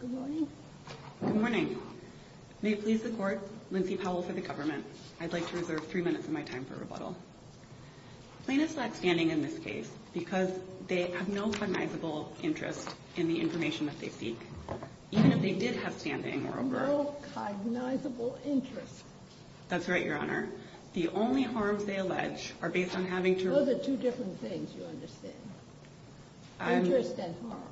Good morning. May it please the court, Lindsay Powell for the government. I'd like to reserve three minutes of my time for rebuttal. Plaintiffs lack standing in this case because they have no cognizable interest in the information that they seek, even if they did have standing or a word. No cognizable interest. That's right, Your Honor. The only harms they allege are based on having to... Those are two different things you understand. Interest and harm.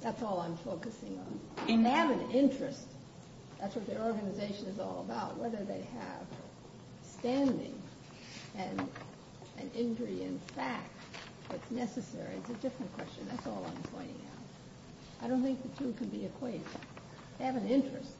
That's all I'm focusing on. They have an interest. That's what their organization is all about. It's not whether they have standing and an injury in fact that's necessary. It's a different question. That's all I'm pointing out. I don't think the two can be equated. They have an interest.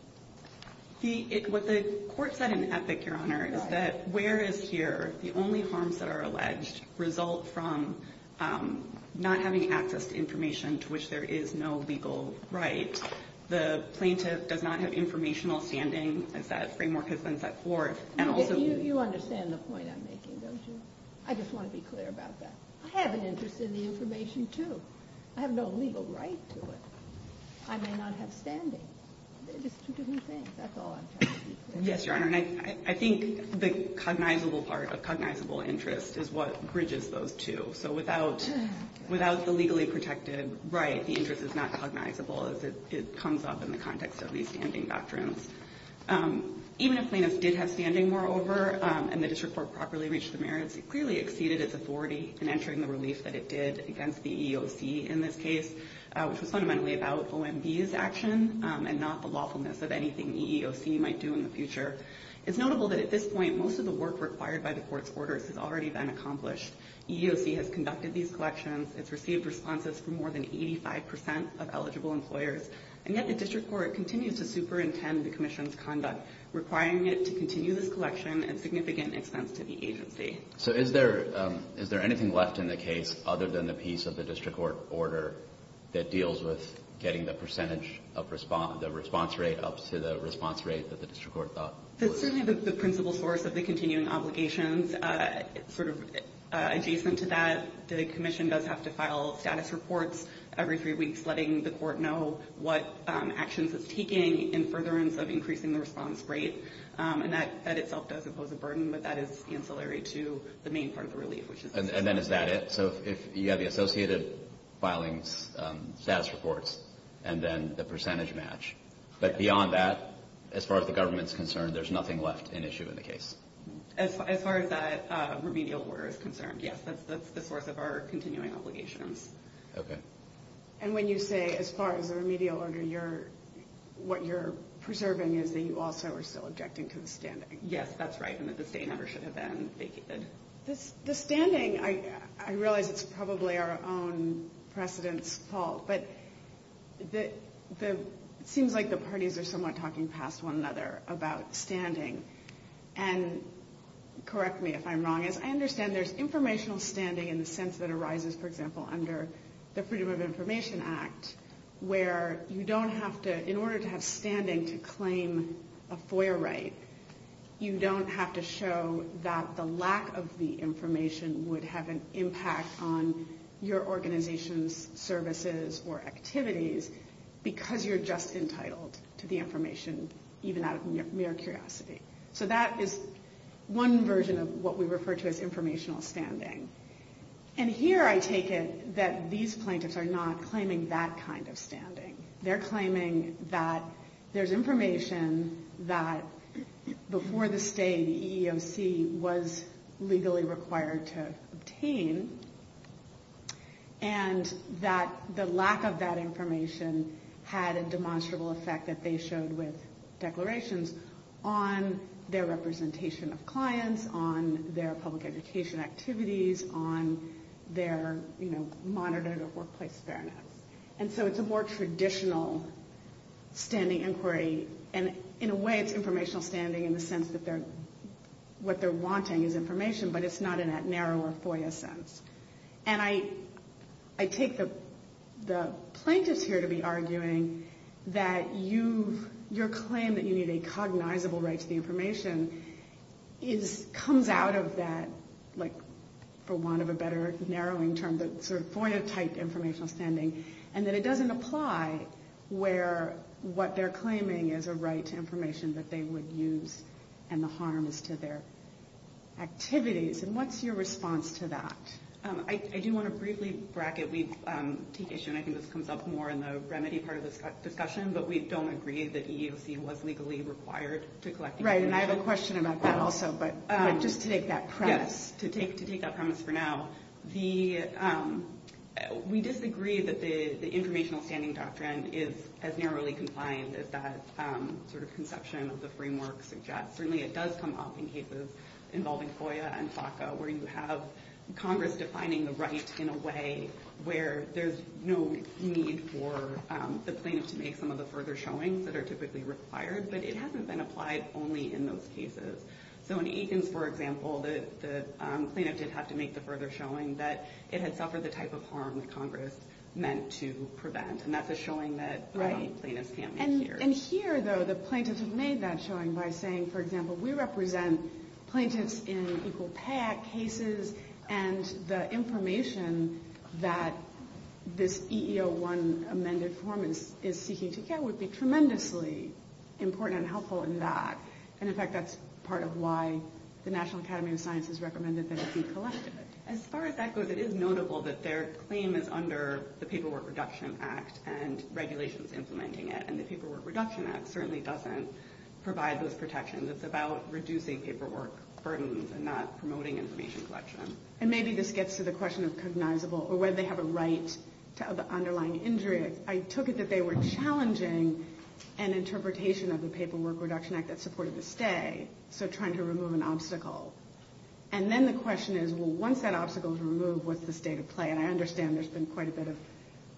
What the court said in Epic, Your Honor, is that where is here, the only harms that are alleged result from not having access to information to which there is no legal right. The plaintiff does not have informational standing as that framework has been set forth. You understand the point I'm making, don't you? I just want to be clear about that. I have an interest in the information, too. I have no legal right to it. I may not have standing. They're just two different things. That's all I'm trying to be clear about. Yes, Your Honor. I think the cognizable part of cognizable interest is what bridges those two. So without the legally protected right, the interest is not cognizable. It comes up in the context of these standing doctrines. Even if plaintiffs did have standing, moreover, and the district court properly reached the merits, it clearly exceeded its authority in entering the relief that it did against the EEOC in this case, which was fundamentally about OMB's action and not the lawfulness of anything EEOC might do in the future. It's notable that at this point, most of the work required by the court's orders has already been accomplished. EEOC has conducted these collections. It's received responses from more than 85% of eligible employers. And yet the district court continues to superintend the commission's conduct, requiring it to continue this collection at significant expense to the agency. So is there anything left in the case other than the piece of the district court order that deals with getting the percentage of the response rate up to the response rate that the district court thought was? It's certainly the principal source of the continuing obligations. Sort of adjacent to that, the commission does have to file status reports every three weeks, letting the court know what actions it's taking in furtherance of increasing the response rate. And that in itself doesn't pose a burden, but that is ancillary to the main part of the relief, which is this. And then is that it? So you have the associated filing status reports, and then the percentage match. But beyond that, as far as the government's concerned, there's nothing left in issue in the case. As far as that remedial order is concerned, yes, that's the source of our continuing obligations. Okay. And when you say as far as the remedial order, what you're preserving is that you also are still objecting to the standing. Yes, that's right, and that the stay never should have been vacated. The standing, I realize it's probably our own precedent's fault, but it seems like the parties are somewhat talking past one another about standing. And correct me if I'm wrong. As I understand, there's informational standing in the sense that arises, for example, under the Freedom of Information Act, where you don't have to, in order to have standing to claim a FOIA right, you don't have to show that the lack of the information would have an impact on your organization's services or activities because you're just entitled to the information, even out of mere curiosity. So that is one version of what we refer to as informational standing. And here I take it that these plaintiffs are not claiming that kind of standing. They're claiming that there's information that before the stay, the EEOC was legally required to obtain, and that the lack of that information had a demonstrable effect that they showed with declarations on their representation of clients, on their public education activities, on their, you know, monitor of workplace fairness. And so it's a more traditional standing inquiry, and in a way it's informational standing in the sense that they're, what they're wanting is information, but it's not in that narrower FOIA sense. And I take the plaintiffs here to be arguing that you've, your claim that you need a cognizable right to the information is, comes out of that, like, for want of a better narrowing term, that sort of FOIA-type informational standing, and that it doesn't apply where what they're claiming is a right to information that they would use, and the harm is to their activities. And what's your response to that? I do want to briefly bracket, we take issue, and I think this comes up more in the remedy part of this discussion, but we don't agree that EEOC was legally required to collect information. Right, and I have a question about that also, but just to take that premise. Yes, to take that premise for now. The, we disagree that the informational standing doctrine is as narrowly compliant as that sort of conception of the framework suggests. Certainly it does come up in cases involving FOIA and FACA, where you have Congress defining the right in a way where there's no need for the plaintiff to make some of the further showings that are typically required, but it hasn't been applied only in those cases. So in Eakins, for example, the plaintiff did have to make the further showing that it had suffered the type of harm that Congress meant to prevent, and that's a showing that IE plaintiffs can't make here. And here, though, the plaintiffs have made that showing by saying, for example, we represent plaintiffs in Equal Pay Act cases, and the information that this EEO1 amended form is seeking to get would be tremendously important and helpful in that. And, in fact, that's part of why the National Academy of Sciences recommended that it be collected. As far as that goes, it is notable that their claim is under the Paperwork Reduction Act and regulations implementing it, and the Paperwork Reduction Act certainly doesn't provide those protections. It's about reducing paperwork burdens and not promoting information collection. And maybe this gets to the question of cognizable or whether they have a right to the underlying injury. I took it that they were challenging an interpretation of the Paperwork Reduction Act that supported the stay, so trying to remove an obstacle. And then the question is, well, once that obstacle is removed, what's the state of play? And I understand there's been quite a bit of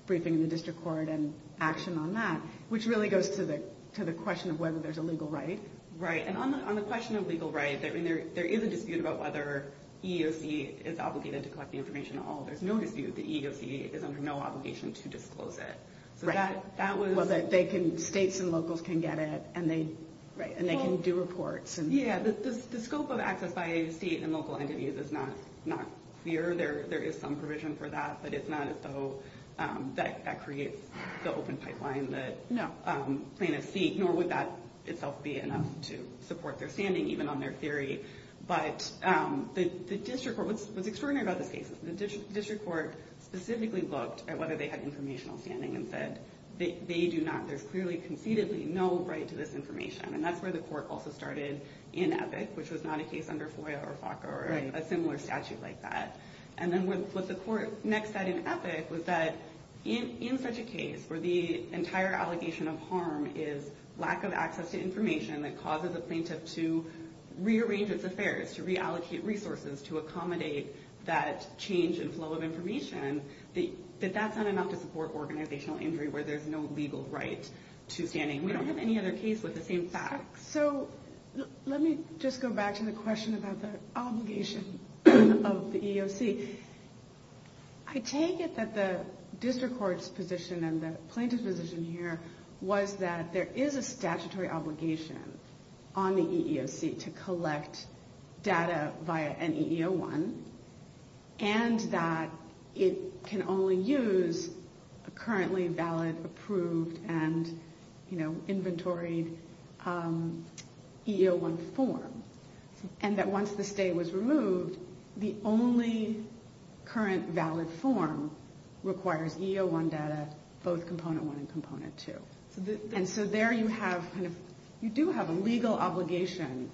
briefing in the district court and action on that, which really goes to the question of whether there's a legal right. Right. And on the question of legal right, there is a dispute about whether EEOC is obligated to collect the information at all. There's no dispute that EEOC is under no obligation to disclose it. Right. Well, that states and locals can get it, and they can do reports. Yeah. The scope of access by state and local entities is not clear. There is some provision for that, but it's not as though that creates the open pipeline that plaintiffs seek. Nor would that itself be enough to support their standing, even on their theory. But the district court was extraordinary about this case. The district court specifically looked at whether they had informational standing and said they do not. There's clearly concededly no right to this information. And that's where the court also started in Epic, which was not a case under FOIA or FACA or a similar statute like that. And then what the court next said in Epic was that in such a case where the entire allegation of harm is lack of access to information that causes a plaintiff to rearrange its affairs, to reallocate resources, to accommodate that change in flow of information, that that's not enough to support organizational injury where there's no legal right to standing. We don't have any other case with the same facts. So let me just go back to the question about the obligation of the EEOC. I take it that the district court's position and the plaintiff's position here was that there is a statutory obligation on the EEOC to collect data via an EEO1 and that it can only use a currently valid, approved, and inventoried EEO1 form. And that once the stay was removed, the only current valid form requires EEO1 data, both Component 1 and Component 2. And so there you do have a legal obligation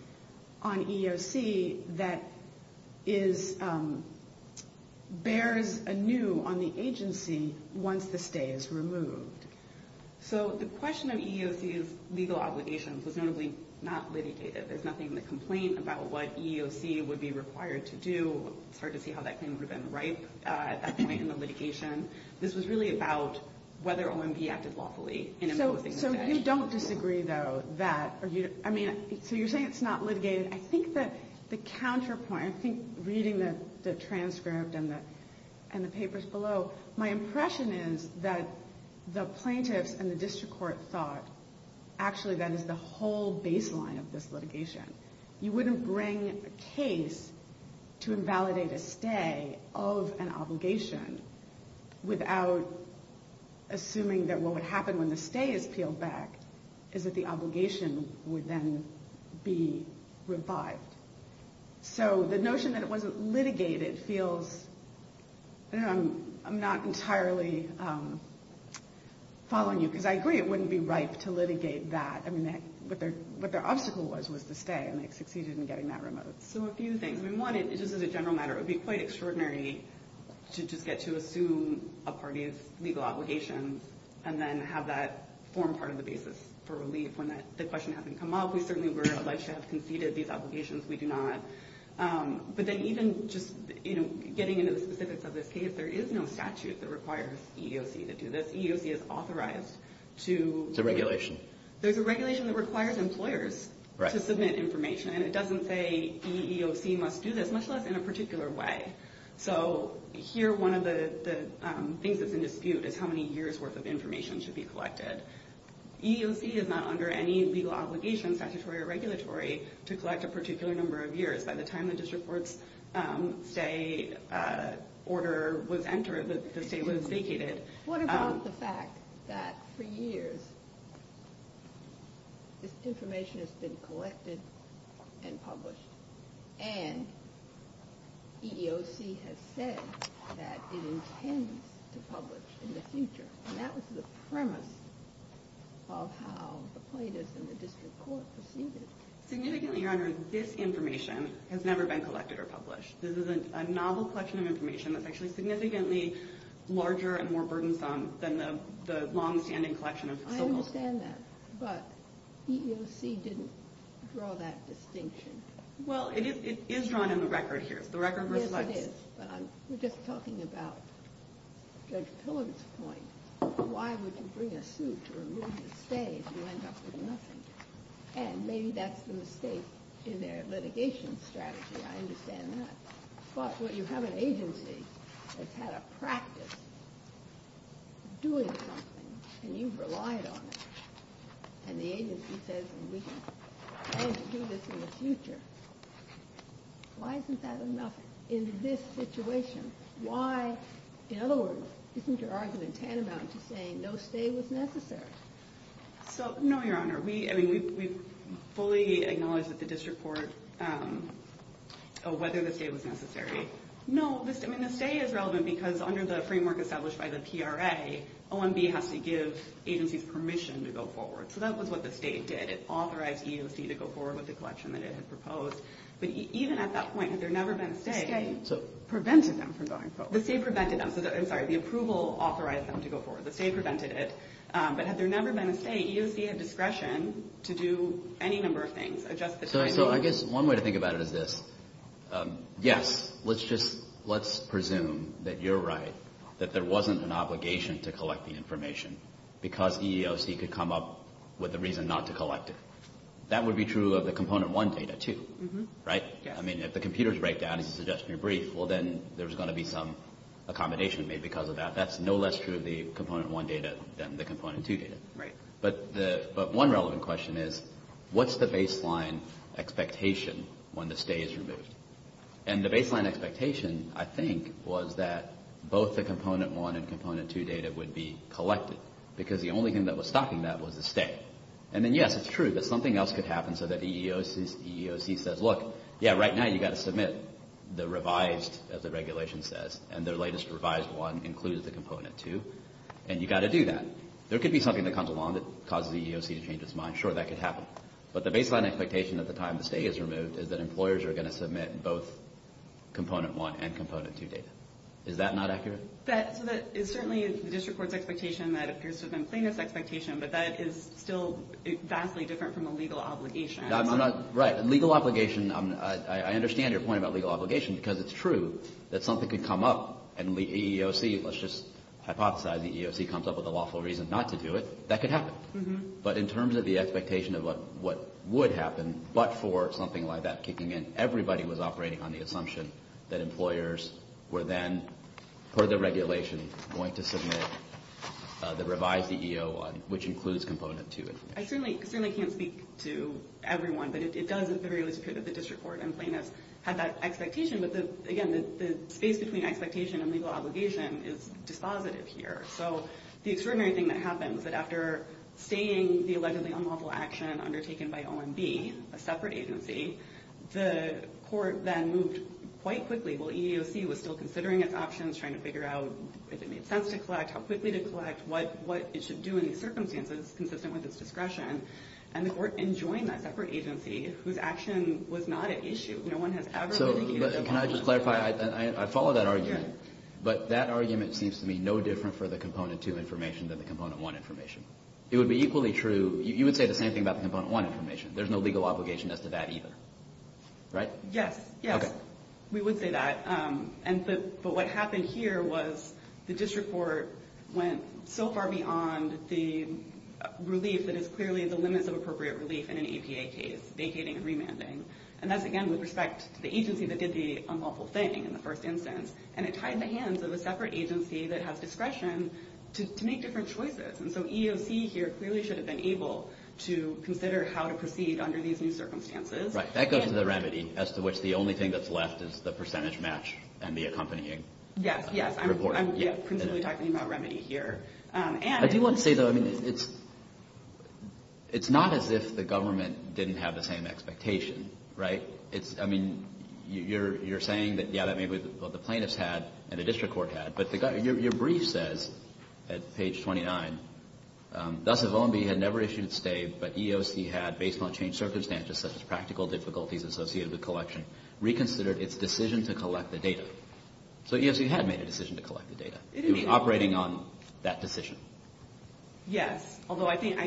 on EEOC that bears anew on the agency once the stay is removed. So the question of EEOC's legal obligations was notably not litigated. There's nothing in the complaint about what EEOC would be required to do. It's hard to see how that claim would have been ripe at that point in the litigation. This was really about whether OMB acted lawfully in imposing the badge. So you don't disagree, though, that – I mean, so you're saying it's not litigated. I think that the counterpoint – I think reading the transcript and the papers below, my impression is that the plaintiffs and the district court thought actually that is the whole baseline of this litigation. You wouldn't bring a case to invalidate a stay of an obligation without assuming that what would happen when the stay is peeled back is that the obligation would then be revived. So the notion that it wasn't litigated feels – I'm not entirely following you, because I agree it wouldn't be ripe to litigate that. I mean, what their obstacle was was the stay, and they succeeded in getting that removed. So a few things. I mean, one, just as a general matter, it would be quite extraordinary to just get to assume a party's legal obligations and then have that form part of the basis for relief when the question hasn't come up. We certainly would have liked to have conceded these obligations. We do not. But then even just getting into the specifics of this case, there is no statute that requires EEOC to do this. EEOC is authorized to – To regulation. There's a regulation that requires employers to submit information, and it doesn't say EEOC must do this, much less in a particular way. So here one of the things that's in dispute is how many years' worth of information should be collected. EEOC is not under any legal obligation, statutory or regulatory, to collect a particular number of years. By the time the district court's stay order was entered, the stay was vacated. What about the fact that for years this information has been collected and published, and EEOC has said that it intends to publish in the future? And that was the premise of how the plaintiffs and the district court proceeded. Significantly, Your Honor, this information has never been collected or published. This is a novel collection of information that's actually significantly larger and more burdensome than the longstanding collection of civil – I understand that. But EEOC didn't draw that distinction. Well, it is drawn in the record here. The record reflects – Yes, it is. But we're just talking about Judge Pillard's point. Why would you bring a suit to remove the stay if you end up with nothing? And maybe that's the mistake in their litigation strategy. I understand that. But you have an agency that's had a practice of doing something, and you've relied on it. And the agency says we can't do this in the future. Why isn't that enough in this situation? Why – in other words, isn't your argument tantamount to saying no stay was necessary? So, no, Your Honor. I mean, we fully acknowledge that the district court – whether the stay was necessary. No, I mean, the stay is relevant because under the framework established by the PRA, OMB has to give agencies permission to go forward. So that was what the stay did. It authorized EEOC to go forward with the collection that it had proposed. But even at that point, had there never been a stay – The stay prevented them from going forward. The stay prevented them. I'm sorry. The approval authorized them to go forward. The stay prevented it. But had there never been a stay, EEOC had discretion to do any number of things. Adjust the timing. So I guess one way to think about it is this. Yes, let's just – let's presume that you're right, that there wasn't an obligation to collect the information because EEOC could come up with a reason not to collect it. That would be true of the Component 1 data too, right? I mean, if the computers break down, as you suggested in your brief, well, then there's going to be some accommodation made because of that. That's no less true of the Component 1 data than the Component 2 data. Right. But one relevant question is what's the baseline expectation when the stay is removed? And the baseline expectation, I think, was that both the Component 1 and Component 2 data would be collected because the only thing that was stopping that was the stay. And then, yes, it's true that something else could happen so that EEOC says, look, yeah, right now you've got to submit the revised, as the regulation says, and their latest revised one includes the Component 2, and you've got to do that. There could be something that comes along that causes EEOC to change its mind. Sure, that could happen. But the baseline expectation at the time the stay is removed is that employers are going to submit both Component 1 and Component 2 data. Is that not accurate? That – so that is certainly the district court's expectation. That appears to have been plaintiff's expectation, but that is still vastly different from a legal obligation. Right. A legal obligation – I understand your point about legal obligation because it's true that something could come up and EEOC, let's just hypothesize, the EEOC comes up with a lawful reason not to do it. That could happen. But in terms of the expectation of what would happen, but for something like that kicking in, everybody was operating on the assumption that employers were then, per the regulation, going to submit the revised EEO1, which includes Component 2 information. I certainly can't speak to everyone, but it does appear that the district court and plaintiffs had that expectation. But, again, the space between expectation and legal obligation is dispositive here. So the extraordinary thing that happens is that after staying the allegedly unlawful action undertaken by OMB, a separate agency, the court then moved quite quickly. Well, EEOC was still considering its options, trying to figure out if it made sense to collect, how quickly to collect, what it should do in these circumstances consistent with its discretion. And the court then joined that separate agency whose action was not at issue. So can I just clarify? I follow that argument. But that argument seems to me no different for the Component 2 information than the Component 1 information. It would be equally true. You would say the same thing about the Component 1 information. There's no legal obligation as to that either, right? Yes, yes. We would say that. But what happened here was the district court went so far beyond the relief that is clearly the limits of appropriate relief in an EPA case, vacating and remanding. And that's, again, with respect to the agency that did the unlawful thing in the first instance. And it tied the hands of a separate agency that has discretion to make different choices. And so EEOC here clearly should have been able to consider how to proceed under these new circumstances. Right. That goes to the remedy as to which the only thing that's left is the percentage match and the accompanying report. Yes, yes. I'm principally talking about remedy here. I do want to say, though, it's not as if the government didn't have the same expectations. Right? I mean, you're saying that, yeah, that may be what the plaintiffs had and the district court had. But your brief says at page 29, thus if OMB had never issued a stay but EEOC had, based on changed circumstances such as practical difficulties associated with collection, reconsidered its decision to collect the data. So EEOC had made a decision to collect the data. It was operating on that decision. Yes. Although I think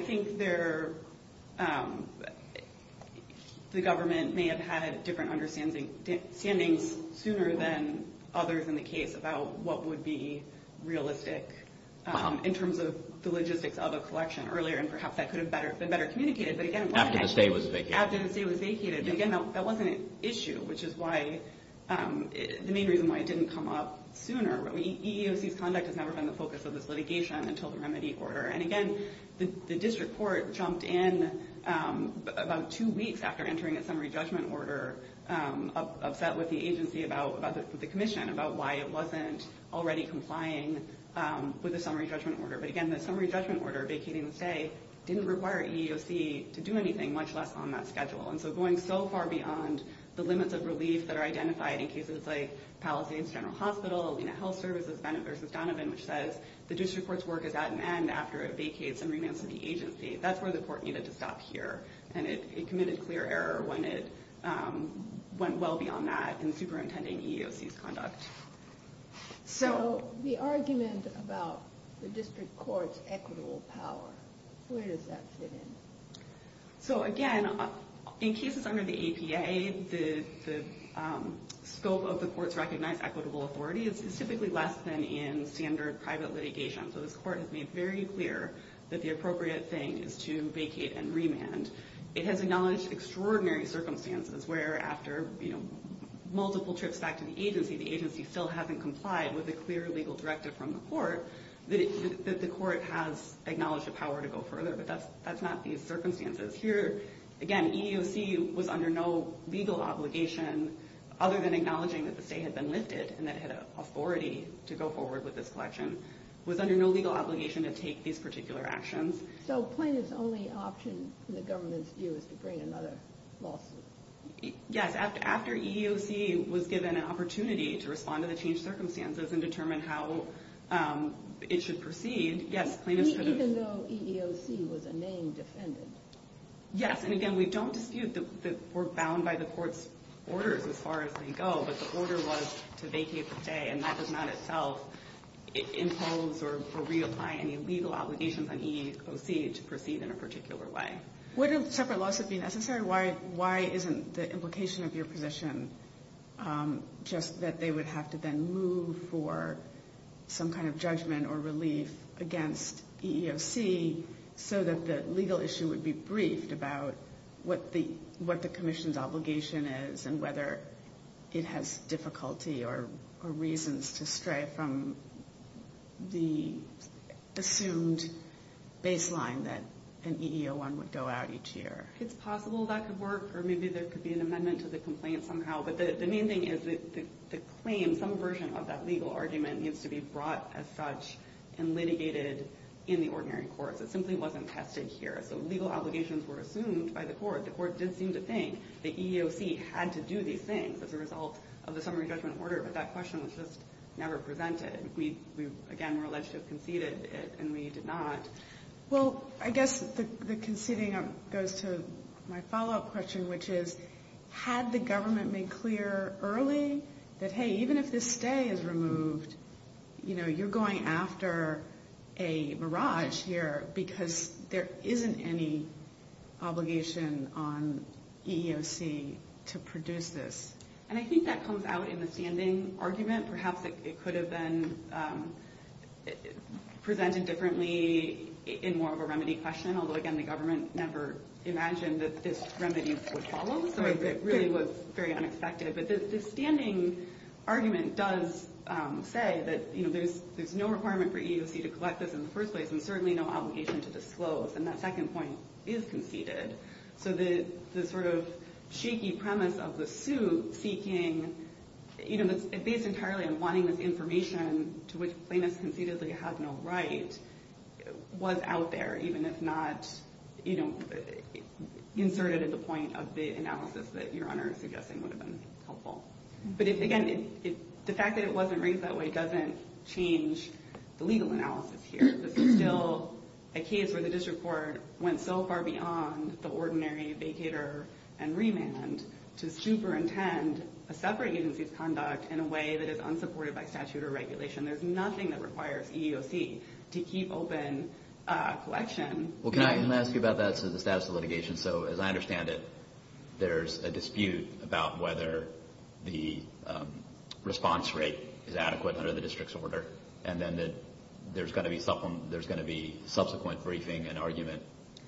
the government may have had different understandings sooner than others in the case about what would be realistic in terms of the logistics of a collection earlier. And perhaps that could have been better communicated. After the stay was vacated. After the stay was vacated. But, again, that wasn't an issue, which is the main reason why it didn't come up sooner. EEOC's conduct has never been the focus of this litigation until the remedy order. And, again, the district court jumped in about two weeks after entering a summary judgment order, upset with the agency about the commission, about why it wasn't already complying with the summary judgment order. But, again, the summary judgment order vacating the stay didn't require EEOC to do anything, much less on that schedule. And so going so far beyond the limits of relief that are identified in cases like Palisades General Hospital, Alina Health Services, Bennett v. Donovan, which says the district court's work is at an end after it vacates and renounces the agency. That's where the court needed to stop here. And it committed clear error when it went well beyond that in superintending EEOC's conduct. So the argument about the district court's equitable power, where does that fit in? So, again, in cases under the APA, the scope of the court's recognized equitable authority is typically less than in standard private litigation. So this court has made very clear that the appropriate thing is to vacate and remand. It has acknowledged extraordinary circumstances where, after multiple trips back to the agency, the agency still hasn't complied with a clear legal directive from the court, that the court has acknowledged the power to go further. But that's not these circumstances. Here, again, EEOC was under no legal obligation, other than acknowledging that the stay had been lifted and that it had authority to go forward with this collection. It was under no legal obligation to take these particular actions. So plaintiff's only option in the government's view is to bring another lawsuit? Yes, after EEOC was given an opportunity to respond to the changed circumstances and determine how it should proceed. Even though EEOC was a named defendant? Yes, and again, we don't dispute that we're bound by the court's orders as far as they go, but the order was to vacate the stay, and that does not itself impose or reapply any legal obligations on EEOC to proceed in a particular way. Wouldn't separate lawsuits be necessary? Why isn't the implication of your position just that they would have to then move for some kind of judgment or relief against EEOC so that the legal issue would be briefed about what the commission's obligation is and whether it has difficulty or reasons to stray from the assumed baseline that an EEO1 would go out each year? It's possible that could work, or maybe there could be an amendment to the complaint somehow. But the main thing is that the claim, some version of that legal argument, needs to be brought as such and litigated in the ordinary courts. It simply wasn't tested here. So legal obligations were assumed by the court. The court did seem to think that EEOC had to do these things as a result of the summary judgment order, but that question was just never presented. We, again, were alleged to have conceded it, and we did not. Well, I guess the conceding goes to my follow-up question, which is had the government made clear early that, hey, even if this stay is removed, you know, you're going after a mirage here because there isn't any obligation on EEOC to produce this. And I think that comes out in the standing argument. Perhaps it could have been presented differently in more of a remedy question, although, again, the government never imagined that this remedy would follow. So it really was very unexpected. But the standing argument does say that, you know, there's no requirement for EEOC to collect this in the first place and certainly no obligation to disclose. And that second point is conceded. So the sort of shaky premise of the suit seeking, you know, based entirely on wanting this information to which plaintiffs conceded they have no right, was out there even if not, you know, inserted at the point of the analysis that Your Honor is suggesting would have been helpful. But, again, the fact that it wasn't raised that way doesn't change the legal analysis here. This is still a case where the district court went so far beyond the ordinary vacator and remand to superintend a separate agency's conduct in a way that is unsupported by statute or regulation. There's nothing that requires EEOC to keep open collection. Well, can I ask you about that as to the status of litigation? So as I understand it, there's a dispute about whether the response rate is adequate under the district's order and then there's going to be subsequent briefing and argument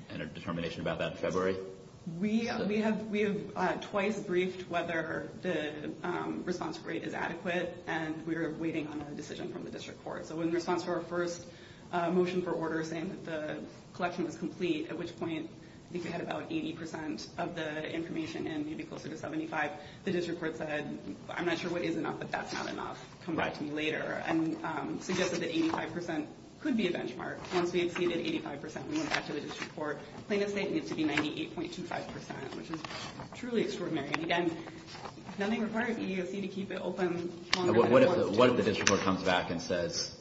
and a determination about that in February? We have twice briefed whether the response rate is adequate, and we are waiting on a decision from the district court. So in response to our first motion for order saying that the collection was complete, at which point I think we had about 80 percent of the information and maybe closer to 75, the district court said, I'm not sure what is enough, but that's not enough. Come back to me later, and suggested that 85 percent could be a benchmark. Once we exceeded 85 percent, we went back to the district court. Plaintiff's state needs to be 98.25 percent, which is truly extraordinary. And again, nothing requires EEOC to keep it open longer than it wants to. What if the district court comes back and says,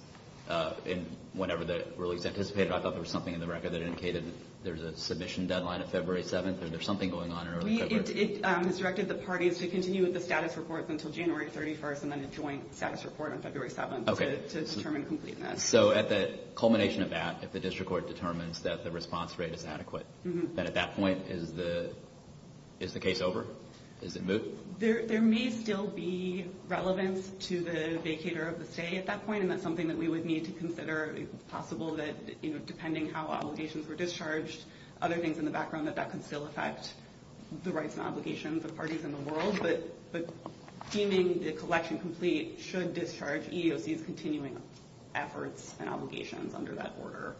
in whatever the release anticipated, I thought there was something in the record that indicated there's a submission deadline of February 7th, or there's something going on in early February? It has directed the parties to continue with the status reports until January 31st and then a joint status report on February 7th to determine completeness. So at the culmination of that, if the district court determines that the response rate is adequate, then at that point is the case over? Is it moot? There may still be relevance to the vacator of the stay at that point, and that's something that we would need to consider. It's possible that depending how obligations were discharged, other things in the background, that that can still affect the rights and obligations of parties in the world. But deeming the collection complete should discharge EEOC's continuing efforts and obligations under that order,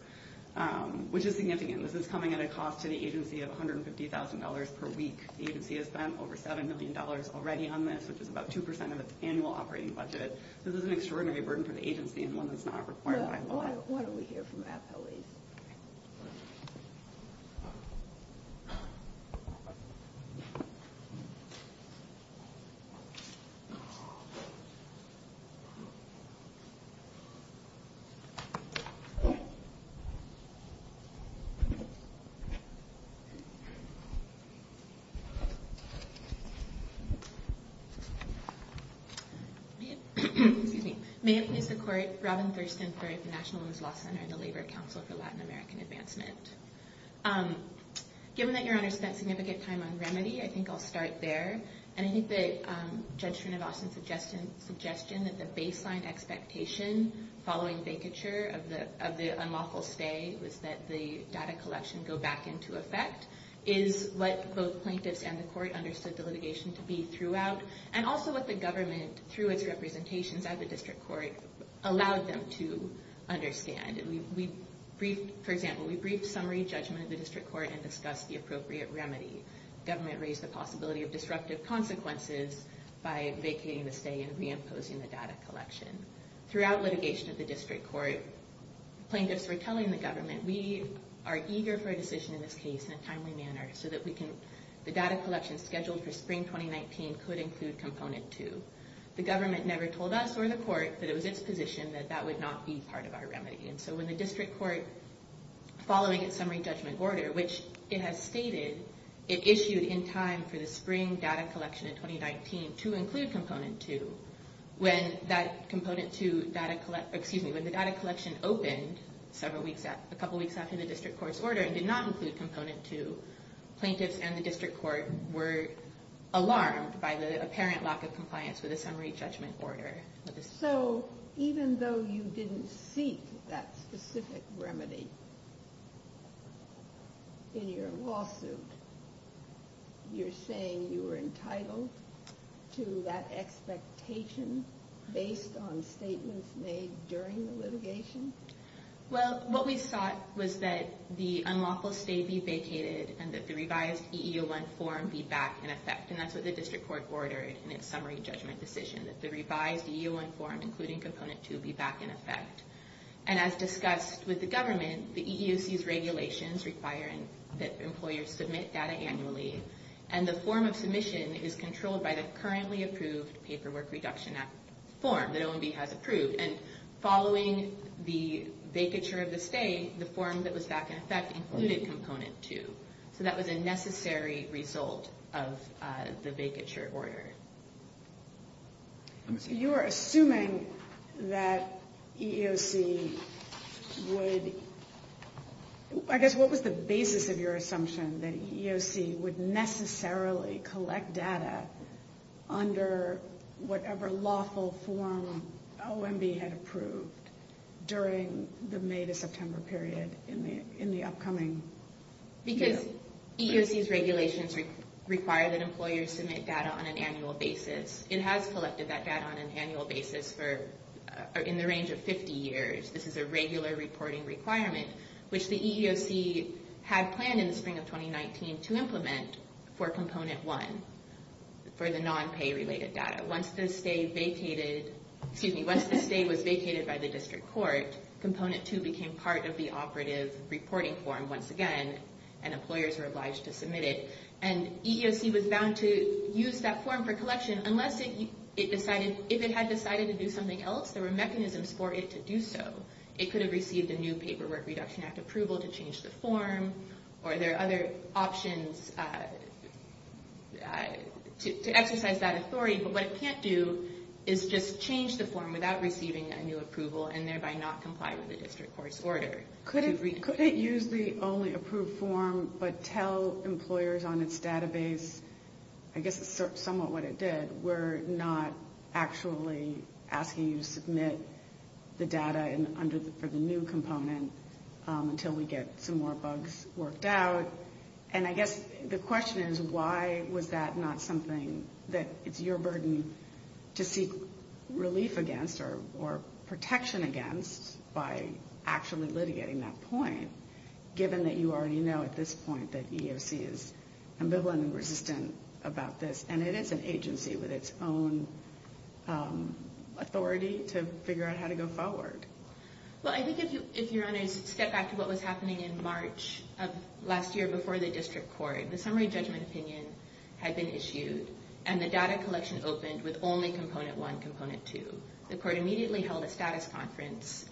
which is significant. This is coming at a cost to the agency of $150,000 per week. The agency has spent over $7 million already on this, which is about 2 percent of its annual operating budget. This is an extraordinary burden for the agency and one that's not required by law. Why don't we hear from the appellees? May it please the Court, Robin Thurston for the National Women's Law Center and the Labor Council for Latin American Advancement. Given that Your Honor spent significant time on remedy, I think I'll start there. And I think the judgment of Austin's suggestion that the baseline expectation following vacature of the unlawful stay was that the data collection go back into effect is what both plaintiffs and the Court understood the litigation to be throughout, and also what the government, through its representations at the district court, allowed them to understand. For example, we briefed summary judgment of the district court and discussed the appropriate remedy. The government raised the possibility of disruptive consequences by vacating the stay and reimposing the data collection. Throughout litigation at the district court, plaintiffs were telling the government, we are eager for a decision in this case in a timely manner so that the data collection scheduled for spring 2019 could include component two. The government never told us or the court that it was its position that that would not be part of our remedy. And so when the district court, following its summary judgment order, which it has stated, it issued in time for the spring data collection in 2019 to include component two, when the data collection opened a couple weeks after the district court's order and did not include component two, plaintiffs and the district court were alarmed by the apparent lack of compliance with the summary judgment order. So even though you didn't seek that specific remedy in your lawsuit, you're saying you were entitled to that expectation based on statements made during the litigation? Well, what we thought was that the unlawful stay be vacated and that the revised EE01 form be back in effect. And that's what the district court ordered in its summary judgment decision, that the revised EE01 form, including component two, be back in effect. And as discussed with the government, the EEOC's regulations require that employers submit data annually. And the form of submission is controlled by the currently approved Paperwork Reduction Act form that OMB has approved. And following the vacature of the stay, the form that was back in effect included component two. So that was a necessary result of the vacature order. So you are assuming that EEOC would, I guess, what was the basis of your assumption that EEOC would necessarily collect data under whatever lawful form OMB had approved during the May to September period in the upcoming year? Because EEOC's regulations require that employers submit data on an annual basis. It has collected that data on an annual basis in the range of 50 years. This is a regular reporting requirement, which the EEOC had planned in the spring of 2019 to implement for component one, for the non-pay-related data. Once the stay vacated, excuse me, once the stay was vacated by the district court, component two became part of the operative reporting form once again, and employers were obliged to submit it. And EEOC was bound to use that form for collection unless it decided, if it had decided to do something else, there were mechanisms for it to do so. It could have received a new Paperwork Reduction Act approval to change the form, or there are other options to exercise that authority. But what it can't do is just change the form without receiving a new approval, and thereby not comply with the district court's order. Could it use the only approved form but tell employers on its database, I guess it's somewhat what it did, that we're not actually asking you to submit the data for the new component until we get some more bugs worked out? And I guess the question is, why was that not something that it's your burden to seek relief against or protection against by actually litigating that point, given that you already know at this point that EEOC is ambivalent and resistant about this, and it is an agency with its own authority to figure out how to go forward? Well, I think if Your Honors step back to what was happening in March of last year before the district court, the summary judgment opinion had been issued, and the data collection opened with only Component 1, Component 2. The court immediately held a status conference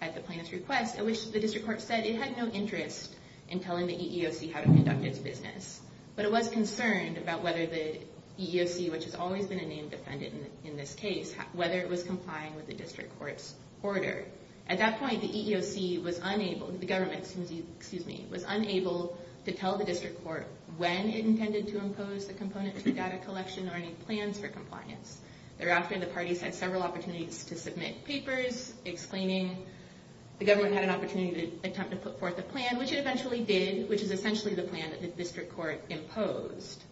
at the plaintiff's request, at which the district court said it had no interest in telling the EEOC how to conduct its business. But it was concerned about whether the EEOC, which has always been a named defendant in this case, whether it was complying with the district court's order. At that point, the EEOC was unable, the government, excuse me, was unable to tell the district court when it intended to impose the component to the data collection or any plans for compliance. Thereafter, the parties had several opportunities to submit papers, explaining the government had an opportunity to attempt to put forth a plan, which it eventually did, which is essentially the plan that the district court imposed.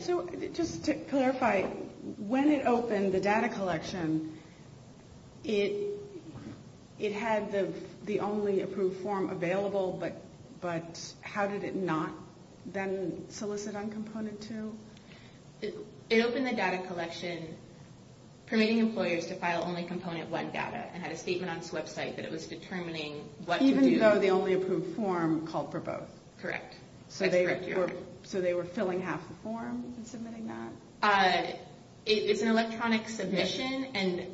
So just to clarify, when it opened the data collection, it had the only approved form available, but how did it not then solicit on Component 2? It opened the data collection permitting employers to file only Component 1 data and had a statement on its website that it was determining what to do. Even though the only approved form called for both? Correct. So they were filling half the form and submitting that? It's an electronic submission, and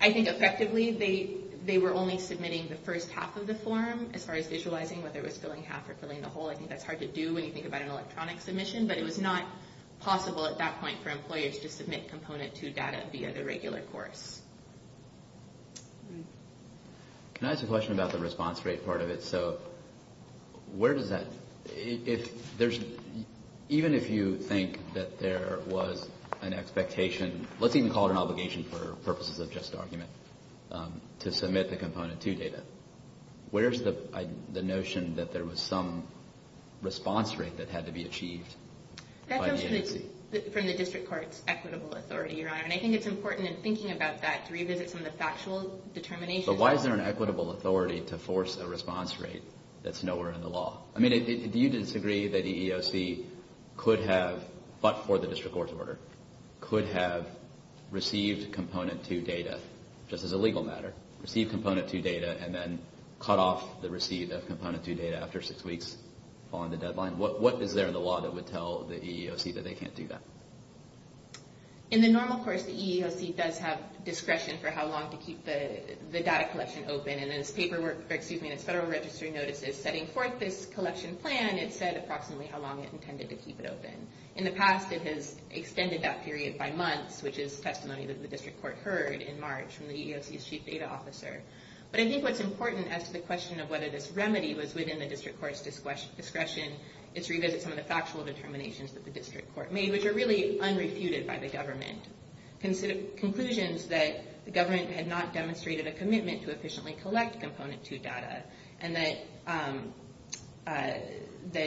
I think effectively they were only submitting the first half of the form, as far as visualizing whether it was filling half or filling the whole. I think that's hard to do when you think about an electronic submission, but it was not possible at that point for employers to submit Component 2 data via the regular course. Can I ask a question about the response rate part of it? So where does that – even if you think that there was an expectation, let's even call it an obligation for purposes of just argument, to submit the Component 2 data, where's the notion that there was some response rate that had to be achieved by the agency? That comes from the district court's equitable authority, Your Honor, and I think it's important in thinking about that to revisit some of the factual determination. But why is there an equitable authority to force a response rate that's nowhere in the law? I mean, do you disagree that EEOC could have, but for the district court's order, could have received Component 2 data, just as a legal matter, received Component 2 data and then cut off the receipt of Component 2 data after six weeks following the deadline? What is there in the law that would tell the EEOC that they can't do that? In the normal course, the EEOC does have discretion for how long to keep the data collection open, and in its paperwork – excuse me, in its federal registry notices setting forth this collection plan, it said approximately how long it intended to keep it open. In the past, it has extended that period by months, which is testimony that the district court heard in March from the EEOC's chief data officer. But I think what's important as to the question of whether this remedy was within the district court's discretion is to revisit some of the factual determinations that the district court made, which are really unrefuted by the government. Conclusions that the government had not demonstrated a commitment to efficiently collect Component 2 data, and that they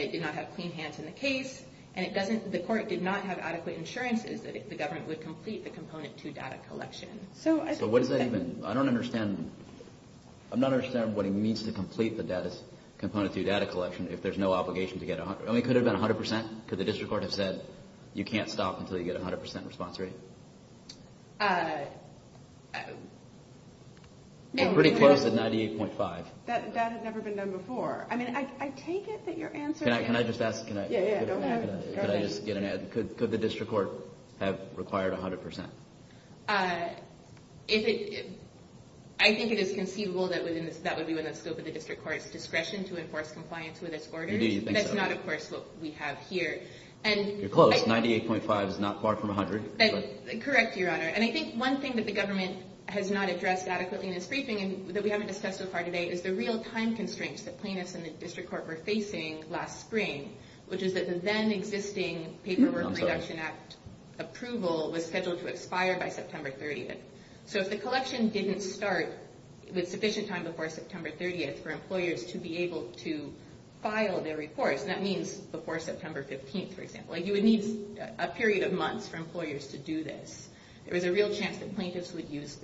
did not have clean hands in the case, and it doesn't – the court did not have adequate insurances that the government would complete the Component 2 data collection. So I think – So what does that even – I don't understand – I'm not understanding what he means to complete the data – Component 2 data collection if there's no obligation to get – I mean, could it have been 100 percent? Could the district court have said, you can't stop until you get 100 percent response rate? No. Pretty close at 98.5. That had never been done before. I mean, I take it that your answer – Can I just ask – Yeah, yeah, go ahead. Could I just get an – could the district court have required 100 percent? If it – I think it is conceivable that within the – that would be within the scope of the district court's discretion to enforce compliance with its orders. You do think so? That's not, of course, what we have here. You're close. 98.5 is not far from 100. Correct, Your Honor. And I think one thing that the government has not addressed adequately in this briefing that we haven't discussed so far today is the real time constraints that plaintiffs and the district court were facing last spring, which is that the then-existing Paperwork Reduction Act approval was scheduled to expire by September 30th. So if the collection didn't start with sufficient time before September 30th for employers to be able to file their reports – and that means before September 15th, for example – you would need a period of months for employers to do this. There was a real chance that plaintiffs would lose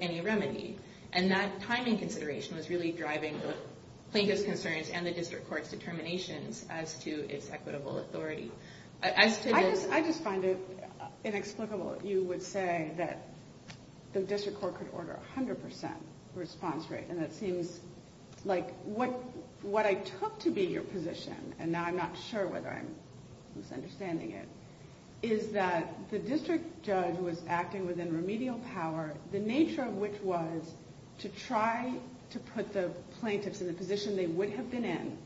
any remedy. And that timing consideration was really driving the plaintiffs' concerns and the district court's determinations as to its equitable authority. I just find it inexplicable that you would say that the district court could order a 100% response rate, and that seems like what I took to be your position – and now I'm not sure whether I'm misunderstanding it – is that the district judge was acting within remedial power, the nature of which was to try to put the plaintiffs in the position they would have been in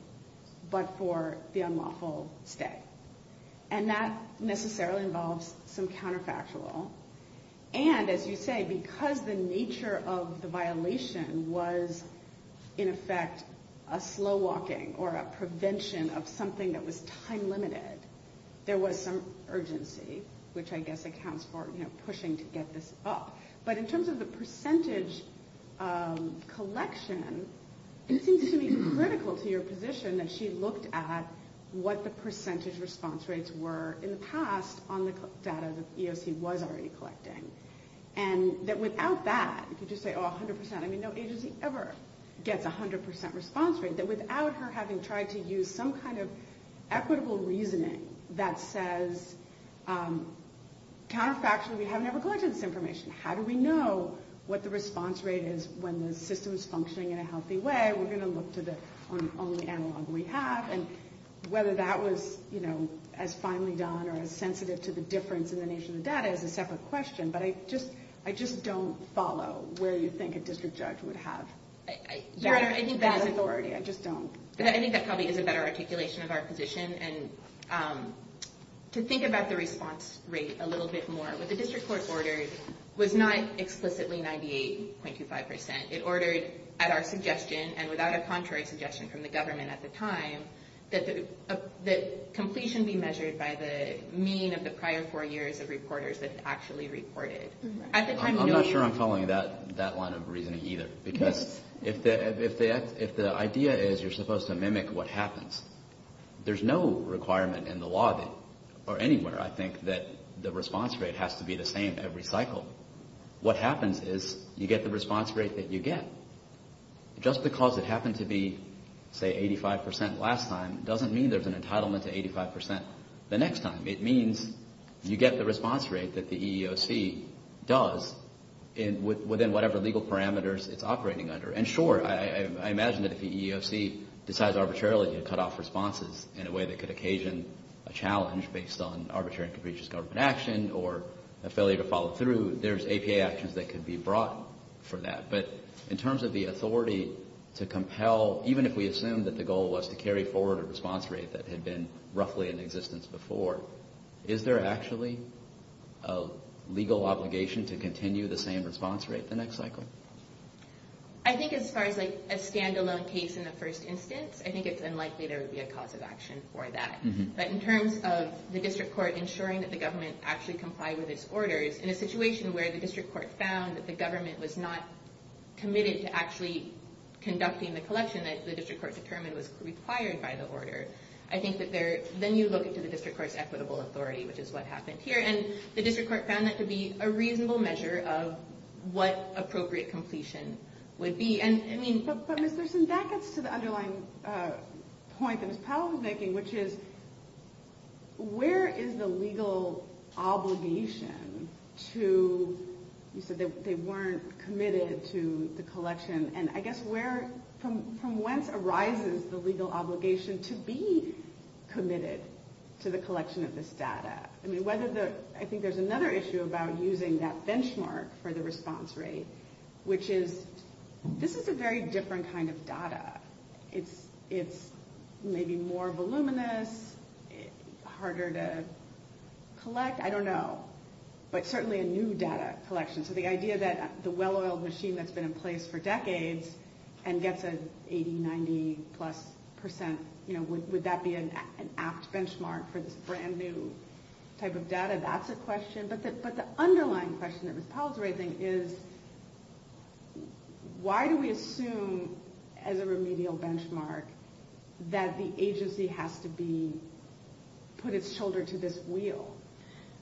but for the unlawful stay. And that necessarily involves some counterfactual. And, as you say, because the nature of the violation was, in effect, a slow walking or a prevention of something that was time limited, there was some urgency, which I guess accounts for pushing to get this up. But in terms of the percentage collection, it seems to me critical to your position that she looked at what the percentage response rates were in the past on the data that EEOC was already collecting, and that without that, if you just say, oh, 100%, I mean, no agency ever gets a 100% response rate, that without her having tried to use some kind of equitable reasoning that says, counterfactually, we haven't ever collected this information. How do we know what the response rate is when the system is functioning in a healthy way? We're going to look to the only analog we have. And whether that was as finely done or as sensitive to the difference in the nature of the data is a separate question. But I just don't follow where you think a district judge would have that authority. I just don't. I think that probably is a better articulation of our position. And to think about the response rate a little bit more, what the district court ordered was not explicitly 98.25%. It ordered at our suggestion and without a contrary suggestion from the government at the time that the completion be measured by the mean of the prior four years of reporters that actually reported. I'm not sure I'm following that line of reasoning either. Because if the idea is you're supposed to mimic what happens, there's no requirement in the law or anywhere, I think, that the response rate has to be the same every cycle. What happens is you get the response rate that you get. Just because it happened to be, say, 85% last time, doesn't mean there's an entitlement to 85% the next time. It means you get the response rate that the EEOC does within whatever legal parameters it's operating under. And sure, I imagine that if the EEOC decides arbitrarily to cut off responses in a way that could occasion a challenge based on arbitrary and capricious government action or a failure to follow through, there's APA actions that could be brought for that. But in terms of the authority to compel, even if we assume that the goal was to carry forward a response rate that had been roughly in existence before, is there actually a legal obligation to continue the same response rate the next cycle? I think as far as a standalone case in the first instance, I think it's unlikely there would be a cause of action for that. But in terms of the district court ensuring that the government actually complied with its orders, in a situation where the district court found that the government was not committed to actually conducting the collection that the district court determined was required by the order, I think that then you look into the district court's equitable authority, which is what happened here. And the district court found that to be a reasonable measure of what appropriate completion would be. But Ms. Thurston, that gets to the underlying point that Ms. Powell was making, which is where is the legal obligation to, you said they weren't committed to the collection, and I guess from whence arises the legal obligation to be committed to the collection of this data? I think there's another issue about using that benchmark for the response rate, which is this is a very different kind of data. It's maybe more voluminous, harder to collect, I don't know. But certainly a new data collection. So the idea that the well-oiled machine that's been in place for decades and gets an 80, 90 plus percent, would that be an apt benchmark for this brand new type of data? That's a question. But the underlying question that Ms. Powell is raising is, why do we assume as a remedial benchmark that the agency has to put its shoulder to this wheel?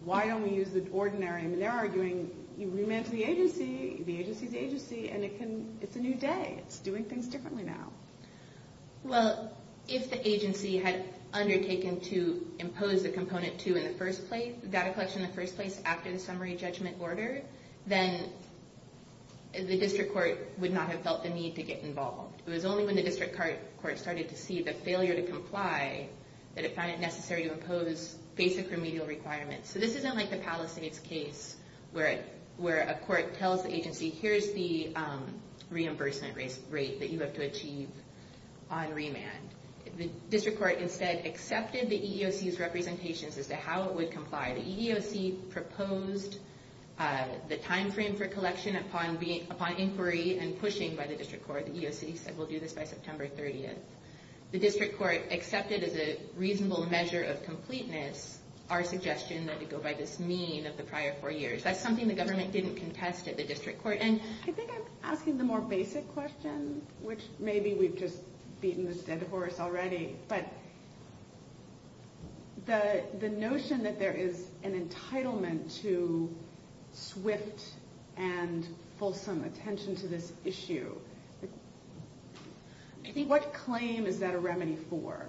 Why don't we use the ordinary? They're arguing, you remit to the agency, the agency is the agency, and it's a new day. It's doing things differently now. Well, if the agency had undertaken to impose a component two in the first place, data collection in the first place after the summary judgment order, then the district court would not have felt the need to get involved. It was only when the district court started to see the failure to comply that it found it necessary to impose basic remedial requirements. So this isn't like the Palisades case where a court tells the agency, here's the reimbursement rate that you have to achieve on remand. The district court instead accepted the EEOC's representations as to how it would comply. The EEOC proposed the timeframe for collection upon inquiry and pushing by the district court. The EEOC said we'll do this by September 30th. The district court accepted as a reasonable measure of completeness our suggestion that we go by this mean of the prior four years. That's something the government didn't contest at the district court. I think I'm asking the more basic question, which maybe we've just beaten this dead horse already. But the notion that there is an entitlement to swift and fulsome attention to this issue, what claim is that a remedy for?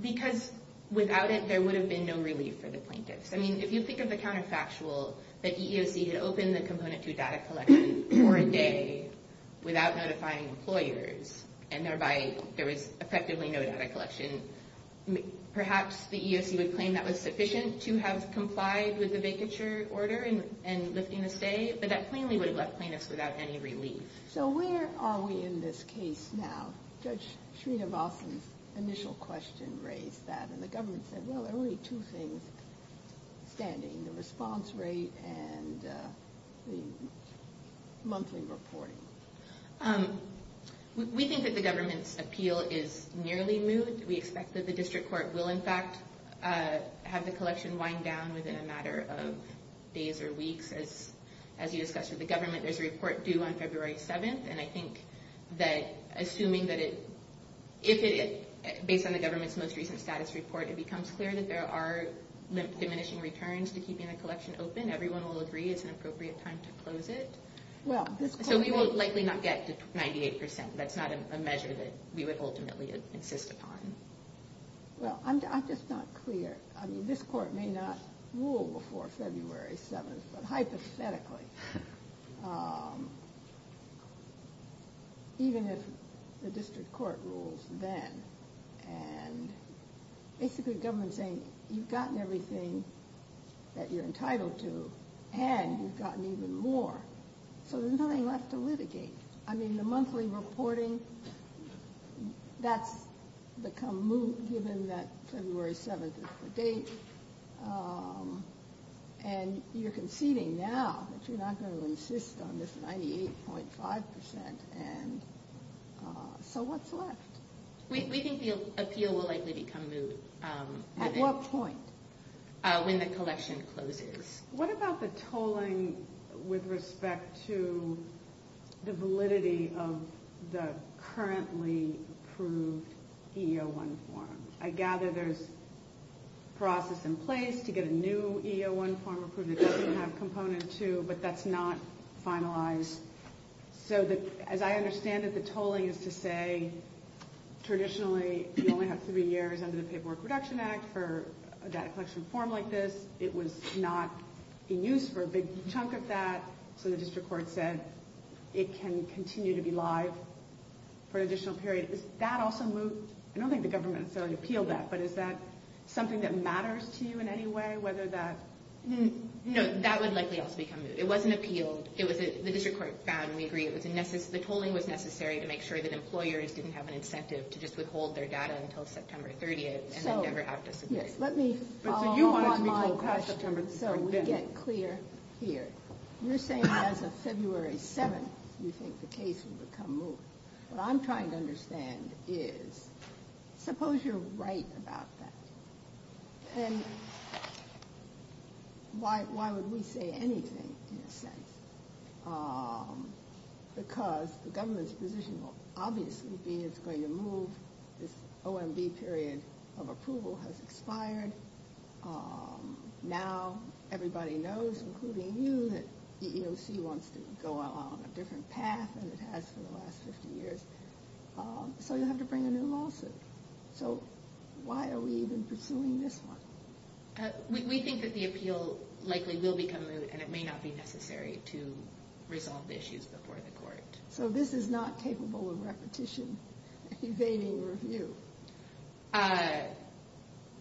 Because without it, there would have been no relief for the plaintiffs. I mean, if you think of the counterfactual that the EEOC had opened the Component 2 data collection for a day without notifying employers and thereby there was effectively no data collection, perhaps the EEOC would claim that was sufficient to have complied with the vacature order and lifting the stay, but that plainly would have left plaintiffs without any relief. So where are we in this case now? Judge Srinivasan's initial question raised that. And the government said, well, there are only two things standing, the response rate and the monthly reporting. We think that the government's appeal is nearly moved. We expect that the district court will, in fact, have the collection wind down within a matter of days or weeks. As you discussed with the government, there's a report due on February 7th. And I think that assuming that it – based on the government's most recent status report, it becomes clear that there are diminishing returns to keeping the collection open. Everyone will agree it's an appropriate time to close it. So we will likely not get to 98%. That's not a measure that we would ultimately insist upon. Well, I'm just not clear. I mean, this court may not rule before February 7th, but hypothetically, even if the district court rules then. And basically the government's saying you've gotten everything that you're entitled to, and you've gotten even more. So there's nothing left to litigate. I mean, the monthly reporting, that's become moot given that February 7th is the date. And you're conceding now that you're not going to insist on this 98.5%. And so what's left? We think the appeal will likely become moot. At what point? When the collection closes. What about the tolling with respect to the validity of the currently approved EO1 form? I gather there's process in place to get a new EO1 form approved. It doesn't have Component 2, but that's not finalized. So as I understand it, the tolling is to say traditionally you only have three years under the Paperwork Reduction Act for a data collection form like this. It was not in use for a big chunk of that. So the district court said it can continue to be live for an additional period. Is that also moot? I don't think the government has said it appealed that, but is that something that matters to you in any way? No, that would likely also become moot. It wasn't appealed. The district court found, and we agree, the tolling was necessary to make sure that employers didn't have an incentive to just withhold their data until September 30th and then never have to submit it. Let me follow up on my question so we get clear here. You're saying as of February 7th, you think the case would become moot. What I'm trying to understand is, suppose you're right about that. Then why would we say anything in a sense? Because the government's position will obviously be it's going to move this OMB period of approval has expired. Now everybody knows, including you, that EEOC wants to go along a different path than it has for the last 50 years. So you'll have to bring a new lawsuit. So why are we even pursuing this one? We think that the appeal likely will become moot, So this is not capable of repetition, evading review.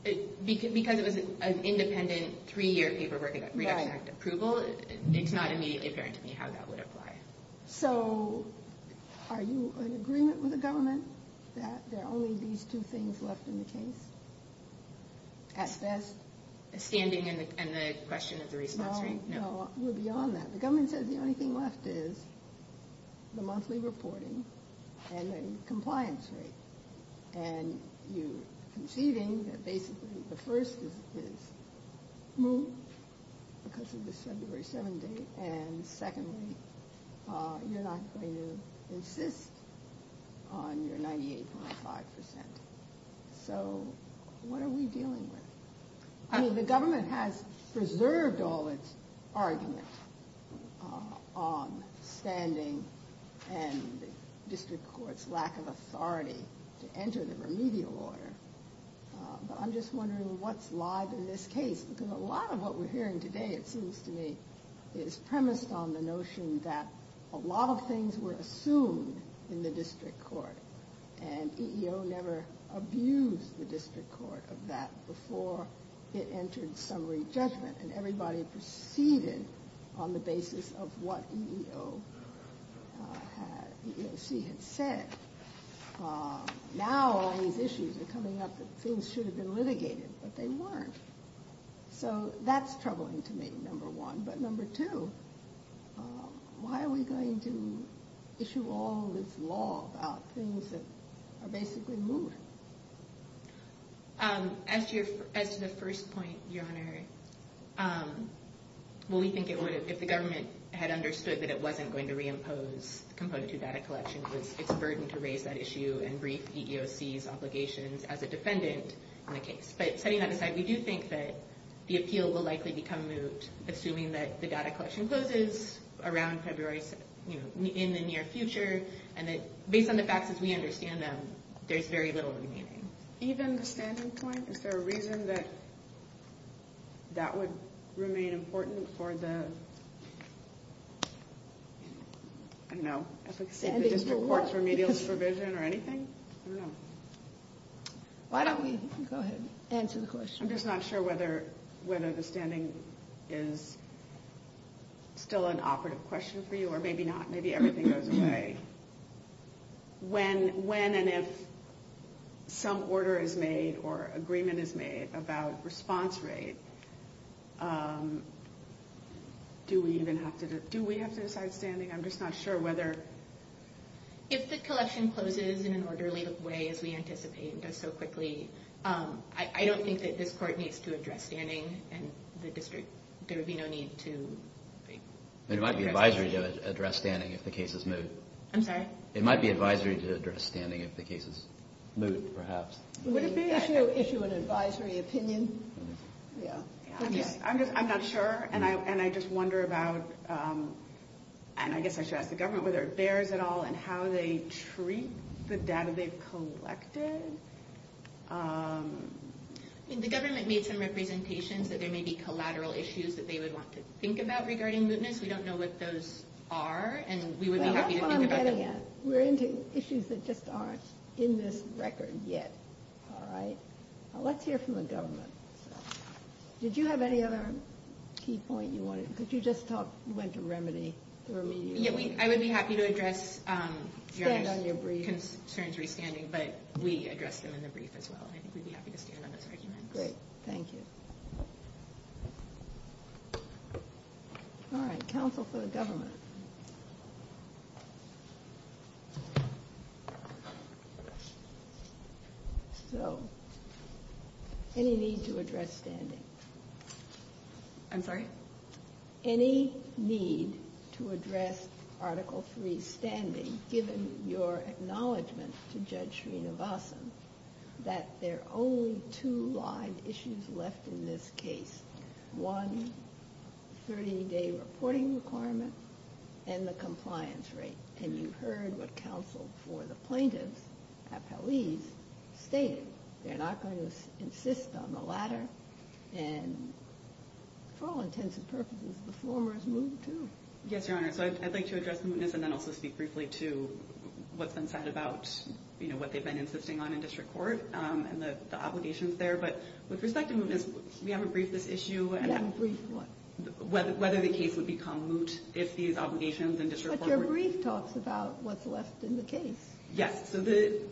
Because it was an independent, three-year paperwork, Reduction Act approval, it's not immediately apparent to me how that would apply. So are you in agreement with the government that there are only these two things left in the case? At best? Standing and the question of the response rate. No, we're beyond that. The government says the only thing left is the monthly reporting and the compliance rate. And you're conceding that basically the first is moot because of the February 7 date, and secondly, you're not going to insist on your 98.5%. So what are we dealing with? I mean, the government has preserved all its argument on standing and the district court's lack of authority to enter the remedial order. But I'm just wondering what's live in this case, because a lot of what we're hearing today, it seems to me, is premised on the notion that a lot of things were assumed in the district court, and EEO never abused the district court of that before it entered summary judgment, and everybody proceeded on the basis of what EEOC had said. Now all these issues are coming up that things should have been litigated, but they weren't. So that's troubling to me, number one. But number two, why are we going to issue all this law about things that are basically moot? As to the first point, Your Honor, we think if the government had understood that it wasn't going to reimpose Component 2 data collection, it's a burden to raise that issue and brief EEOC's obligations as a defendant in the case. But setting that aside, we do think that the appeal will likely become moot, assuming that the data collection closes around February in the near future, and that based on the facts as we understand them, there's very little remaining. Even the standing point? Is there a reason that that would remain important for the district court's remedialist provision or anything? I don't know. Why don't we go ahead and answer the question? I'm just not sure whether the standing is still an operative question for you, or maybe not. Maybe everything goes away. When and if some order is made or agreement is made about response rate, do we have to decide standing? I'm just not sure whether. If the collection closes in an orderly way as we anticipate and does so quickly, I don't think that this court needs to address standing, and the district, there would be no need to. It might be advisory to address standing if the case is moot. I'm sorry? It might be advisory to address standing if the case is moot, perhaps. Would it be issue an advisory opinion? I'm not sure, and I just wonder about, and I guess I should ask the government whether it bears at all, and how they treat the data they've collected. The government made some representations that there may be collateral issues that they would want to think about regarding mootness. We don't know what those are, and we would be happy to think about that. We're into issues that just aren't in this record yet. All right. Let's hear from the government. Did you have any other key point you wanted? Could you just talk? You went to remedy. I would be happy to address concerns re-standing, but we addressed them in the brief as well. I think we'd be happy to stand on those arguments. Great. Thank you. All right, counsel for the government. Any need to address standing? I'm sorry? Any need to address Article III's standing, given your acknowledgement to Judge Srinivasan that there are only two live issues left in this case, one 30-day reporting requirement and the compliance rate? And you heard what counsel for the plaintiffs, appellees, stated. They're not going to insist on the latter. And for all intents and purposes, the former is moot too. Yes, Your Honor. So I'd like to address the mootness and then also speak briefly to what's been said about, you know, what they've been insisting on in district court and the obligations there. But with respect to mootness, we haven't briefed this issue. You haven't briefed what? Whether the case would become moot if these obligations in district court were – But your brief talks about what's left in the case. Yes. So,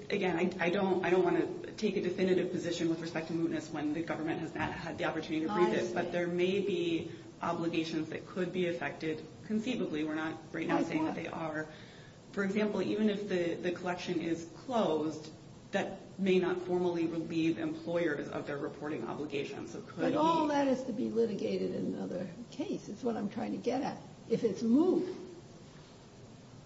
again, I don't want to take a definitive position with respect to mootness when the government has not had the opportunity to brief it. But there may be obligations that could be affected conceivably. We're not right now saying that they are. For example, even if the collection is closed, that may not formally relieve employers of their reporting obligations. But all that is to be litigated in another case. It's what I'm trying to get at. If it's moot,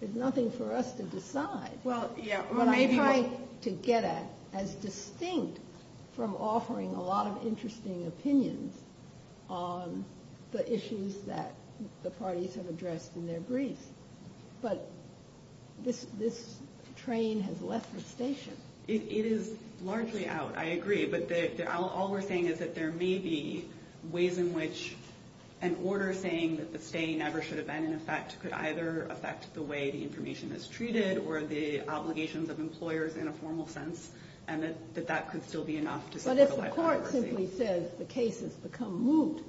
there's nothing for us to decide. Well, yeah. What I'm trying to get at as distinct from offering a lot of interesting opinions on the issues that the parties have addressed in their briefs. But this train has left the station. It is largely out. I agree. But all we're saying is that there may be ways in which an order saying that the stay never should have been in effect could either affect the way the information is treated or the obligations of employers in a formal sense and that that could still be enough to support a life of privacy. But if the court simply says the case has become moot,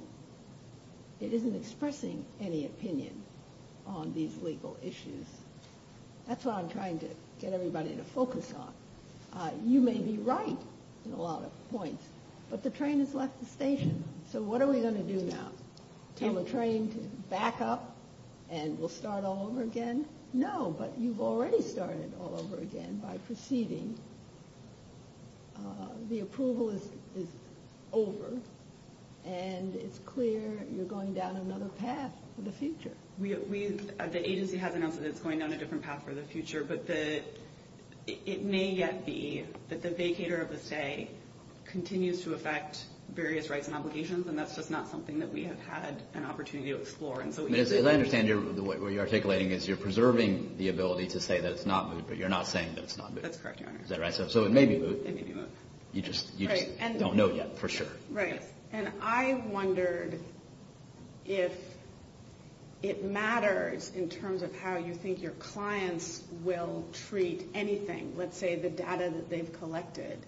it isn't expressing any opinion on these legal issues. That's what I'm trying to get everybody to focus on. You may be right in a lot of points, but the train has left the station. So what are we going to do now? Tell the train to back up and we'll start all over again? No, but you've already started all over again by proceeding. The approval is over, and it's clear you're going down another path for the future. The agency has announced that it's going down a different path for the future, but it may yet be that the vacator of the stay continues to affect various rights and obligations, and that's just not something that we have had an opportunity to explore. As I understand it, the way you're articulating it is you're preserving the ability to say that it's not moot, but you're not saying that it's not moot. That's correct, Your Honor. So it may be moot. It may be moot. You just don't know yet for sure. I wondered if it matters in terms of how you think your clients will treat anything, let's say the data that they've collected,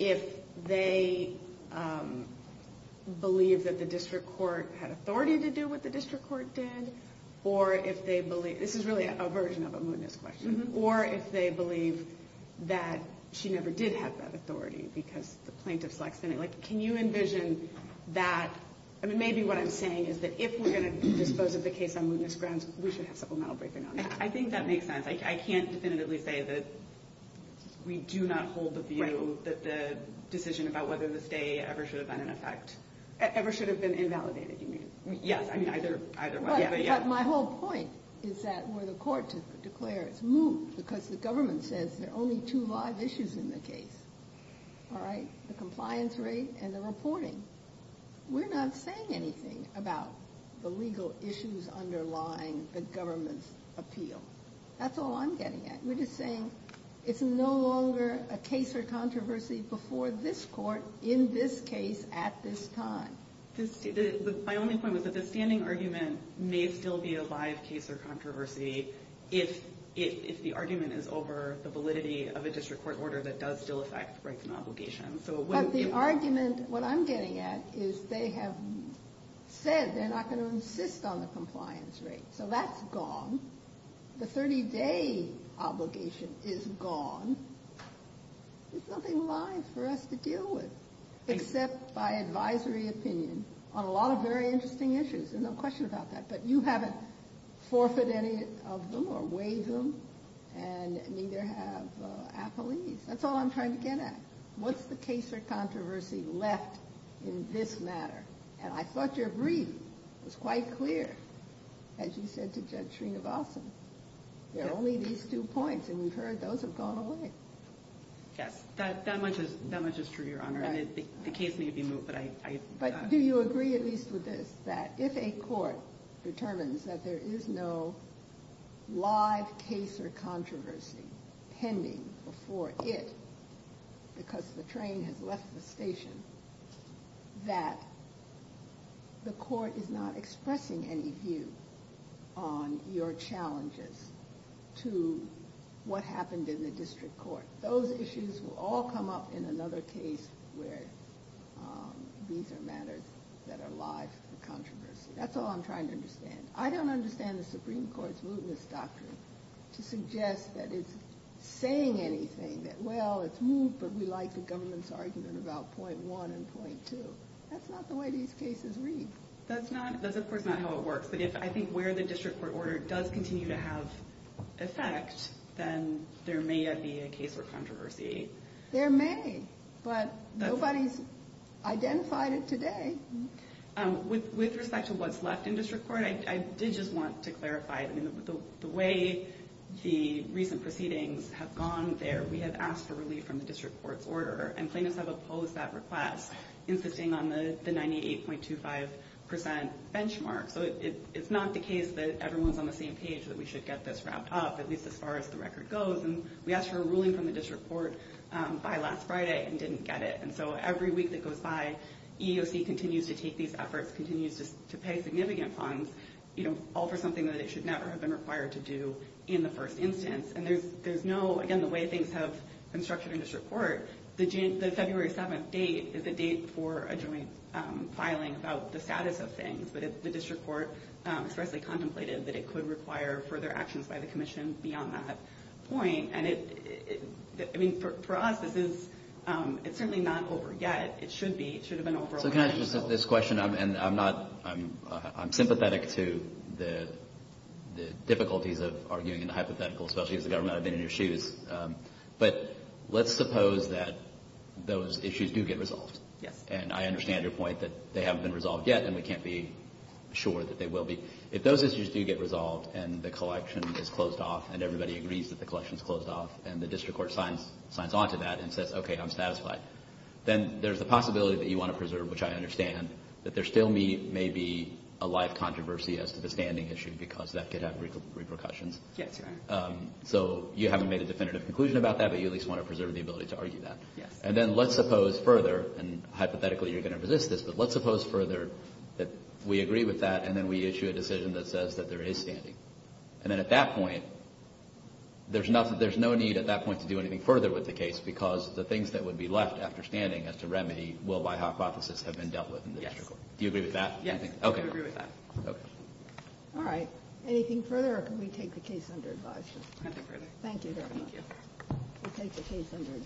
if they believe that the district court had authority to do what the district court did, or if they believe—this is really a version of a mootness question— or if they believe that she never did have that authority because the plaintiff's lax in it. Can you envision that— I mean, maybe what I'm saying is that if we're going to dispose of the case on mootness grounds, we should have supplemental briefing on it. I think that makes sense. I can't definitively say that we do not hold the view that the decision about whether the stay ever should have been an effect— Ever should have been invalidated, you mean. Yes. But my whole point is that where the court declares it's moot because the government says there are only two live issues in the case, all right, the compliance rate and the reporting, we're not saying anything about the legal issues underlying the government's appeal. That's all I'm getting at. We're just saying it's no longer a case or controversy before this court in this case at this time. My only point was that the standing argument may still be a live case or controversy if the argument is over the validity of a district court order that does still affect rights and obligations. But the argument—what I'm getting at is they have said they're not going to insist on the compliance rate, so that's gone. The 30-day obligation is gone. There's nothing live for us to deal with except by advisory opinion on a lot of very interesting issues. There's no question about that. But you haven't forfeited any of them or waived them, and neither have appellees. That's all I'm trying to get at. What's the case or controversy left in this matter? And I thought your brief was quite clear, as you said to Judge Srinivasan. There are only these two points, and we've heard those have gone away. Yes. That much is true, Your Honor. The case may be moot, but I— Do you agree at least with this, that if a court determines that there is no live case or controversy pending before it because the train has left the station, that the court is not expressing any view on your challenges to what happened in the district court? Those issues will all come up in another case where these are matters that are live for controversy. That's all I'm trying to understand. I don't understand the Supreme Court's mootness doctrine to suggest that it's saying anything, that, well, it's moot, but we like the government's argument about point one and point two. That's not the way these cases read. That's not—that's, of course, not how it works. But if I think where the district court order does continue to have effect, then there may yet be a case for controversy. There may, but nobody's identified it today. With respect to what's left in district court, I did just want to clarify. I mean, the way the recent proceedings have gone there, we have asked for relief from the district court's order, and plaintiffs have opposed that request, insisting on the 98.25 percent benchmark. So it's not the case that everyone's on the same page, that we should get this wrapped up, at least as far as the record goes. And we asked for a ruling from the district court by last Friday and didn't get it. And so every week that goes by, EEOC continues to take these efforts, continues to pay significant funds, all for something that it should never have been required to do in the first instance. And there's no—again, the way things have been structured in district court, the February 7th date is a date for a joint filing about the status of things. But the district court expressly contemplated that it could require further actions by the commission beyond that point. And it—I mean, for us, this is—it's certainly not over yet. It should be. It should have been over a while ago. So can I address this question? And I'm not—I'm sympathetic to the difficulties of arguing in the hypothetical, especially as the government have been in your shoes. But let's suppose that those issues do get resolved. Yes. And I understand your point that they haven't been resolved yet and we can't be sure that they will be. If those issues do get resolved and the collection is closed off and everybody agrees that the collection is closed off and the district court signs on to that and says, okay, I'm satisfied, then there's a possibility that you want to preserve, which I understand, that there still may be a live controversy as to the standing issue because that could have repercussions. Yes, Your Honor. So you haven't made a definitive conclusion about that, but you at least want to preserve the ability to argue that. Yes. And then let's suppose further, and hypothetically you're going to resist this, but let's suppose further that we agree with that and then we issue a decision that says that there is standing. And then at that point, there's no need at that point to do anything further with the case because the things that would be left after standing as to remedy will, by hypothesis, have been dealt with in the district court. Yes. Do you agree with that? Yes. Okay. I agree with that. Okay. All right. Anything further or can we take the case under advisory? I'll take it further. Thank you very much. Thank you.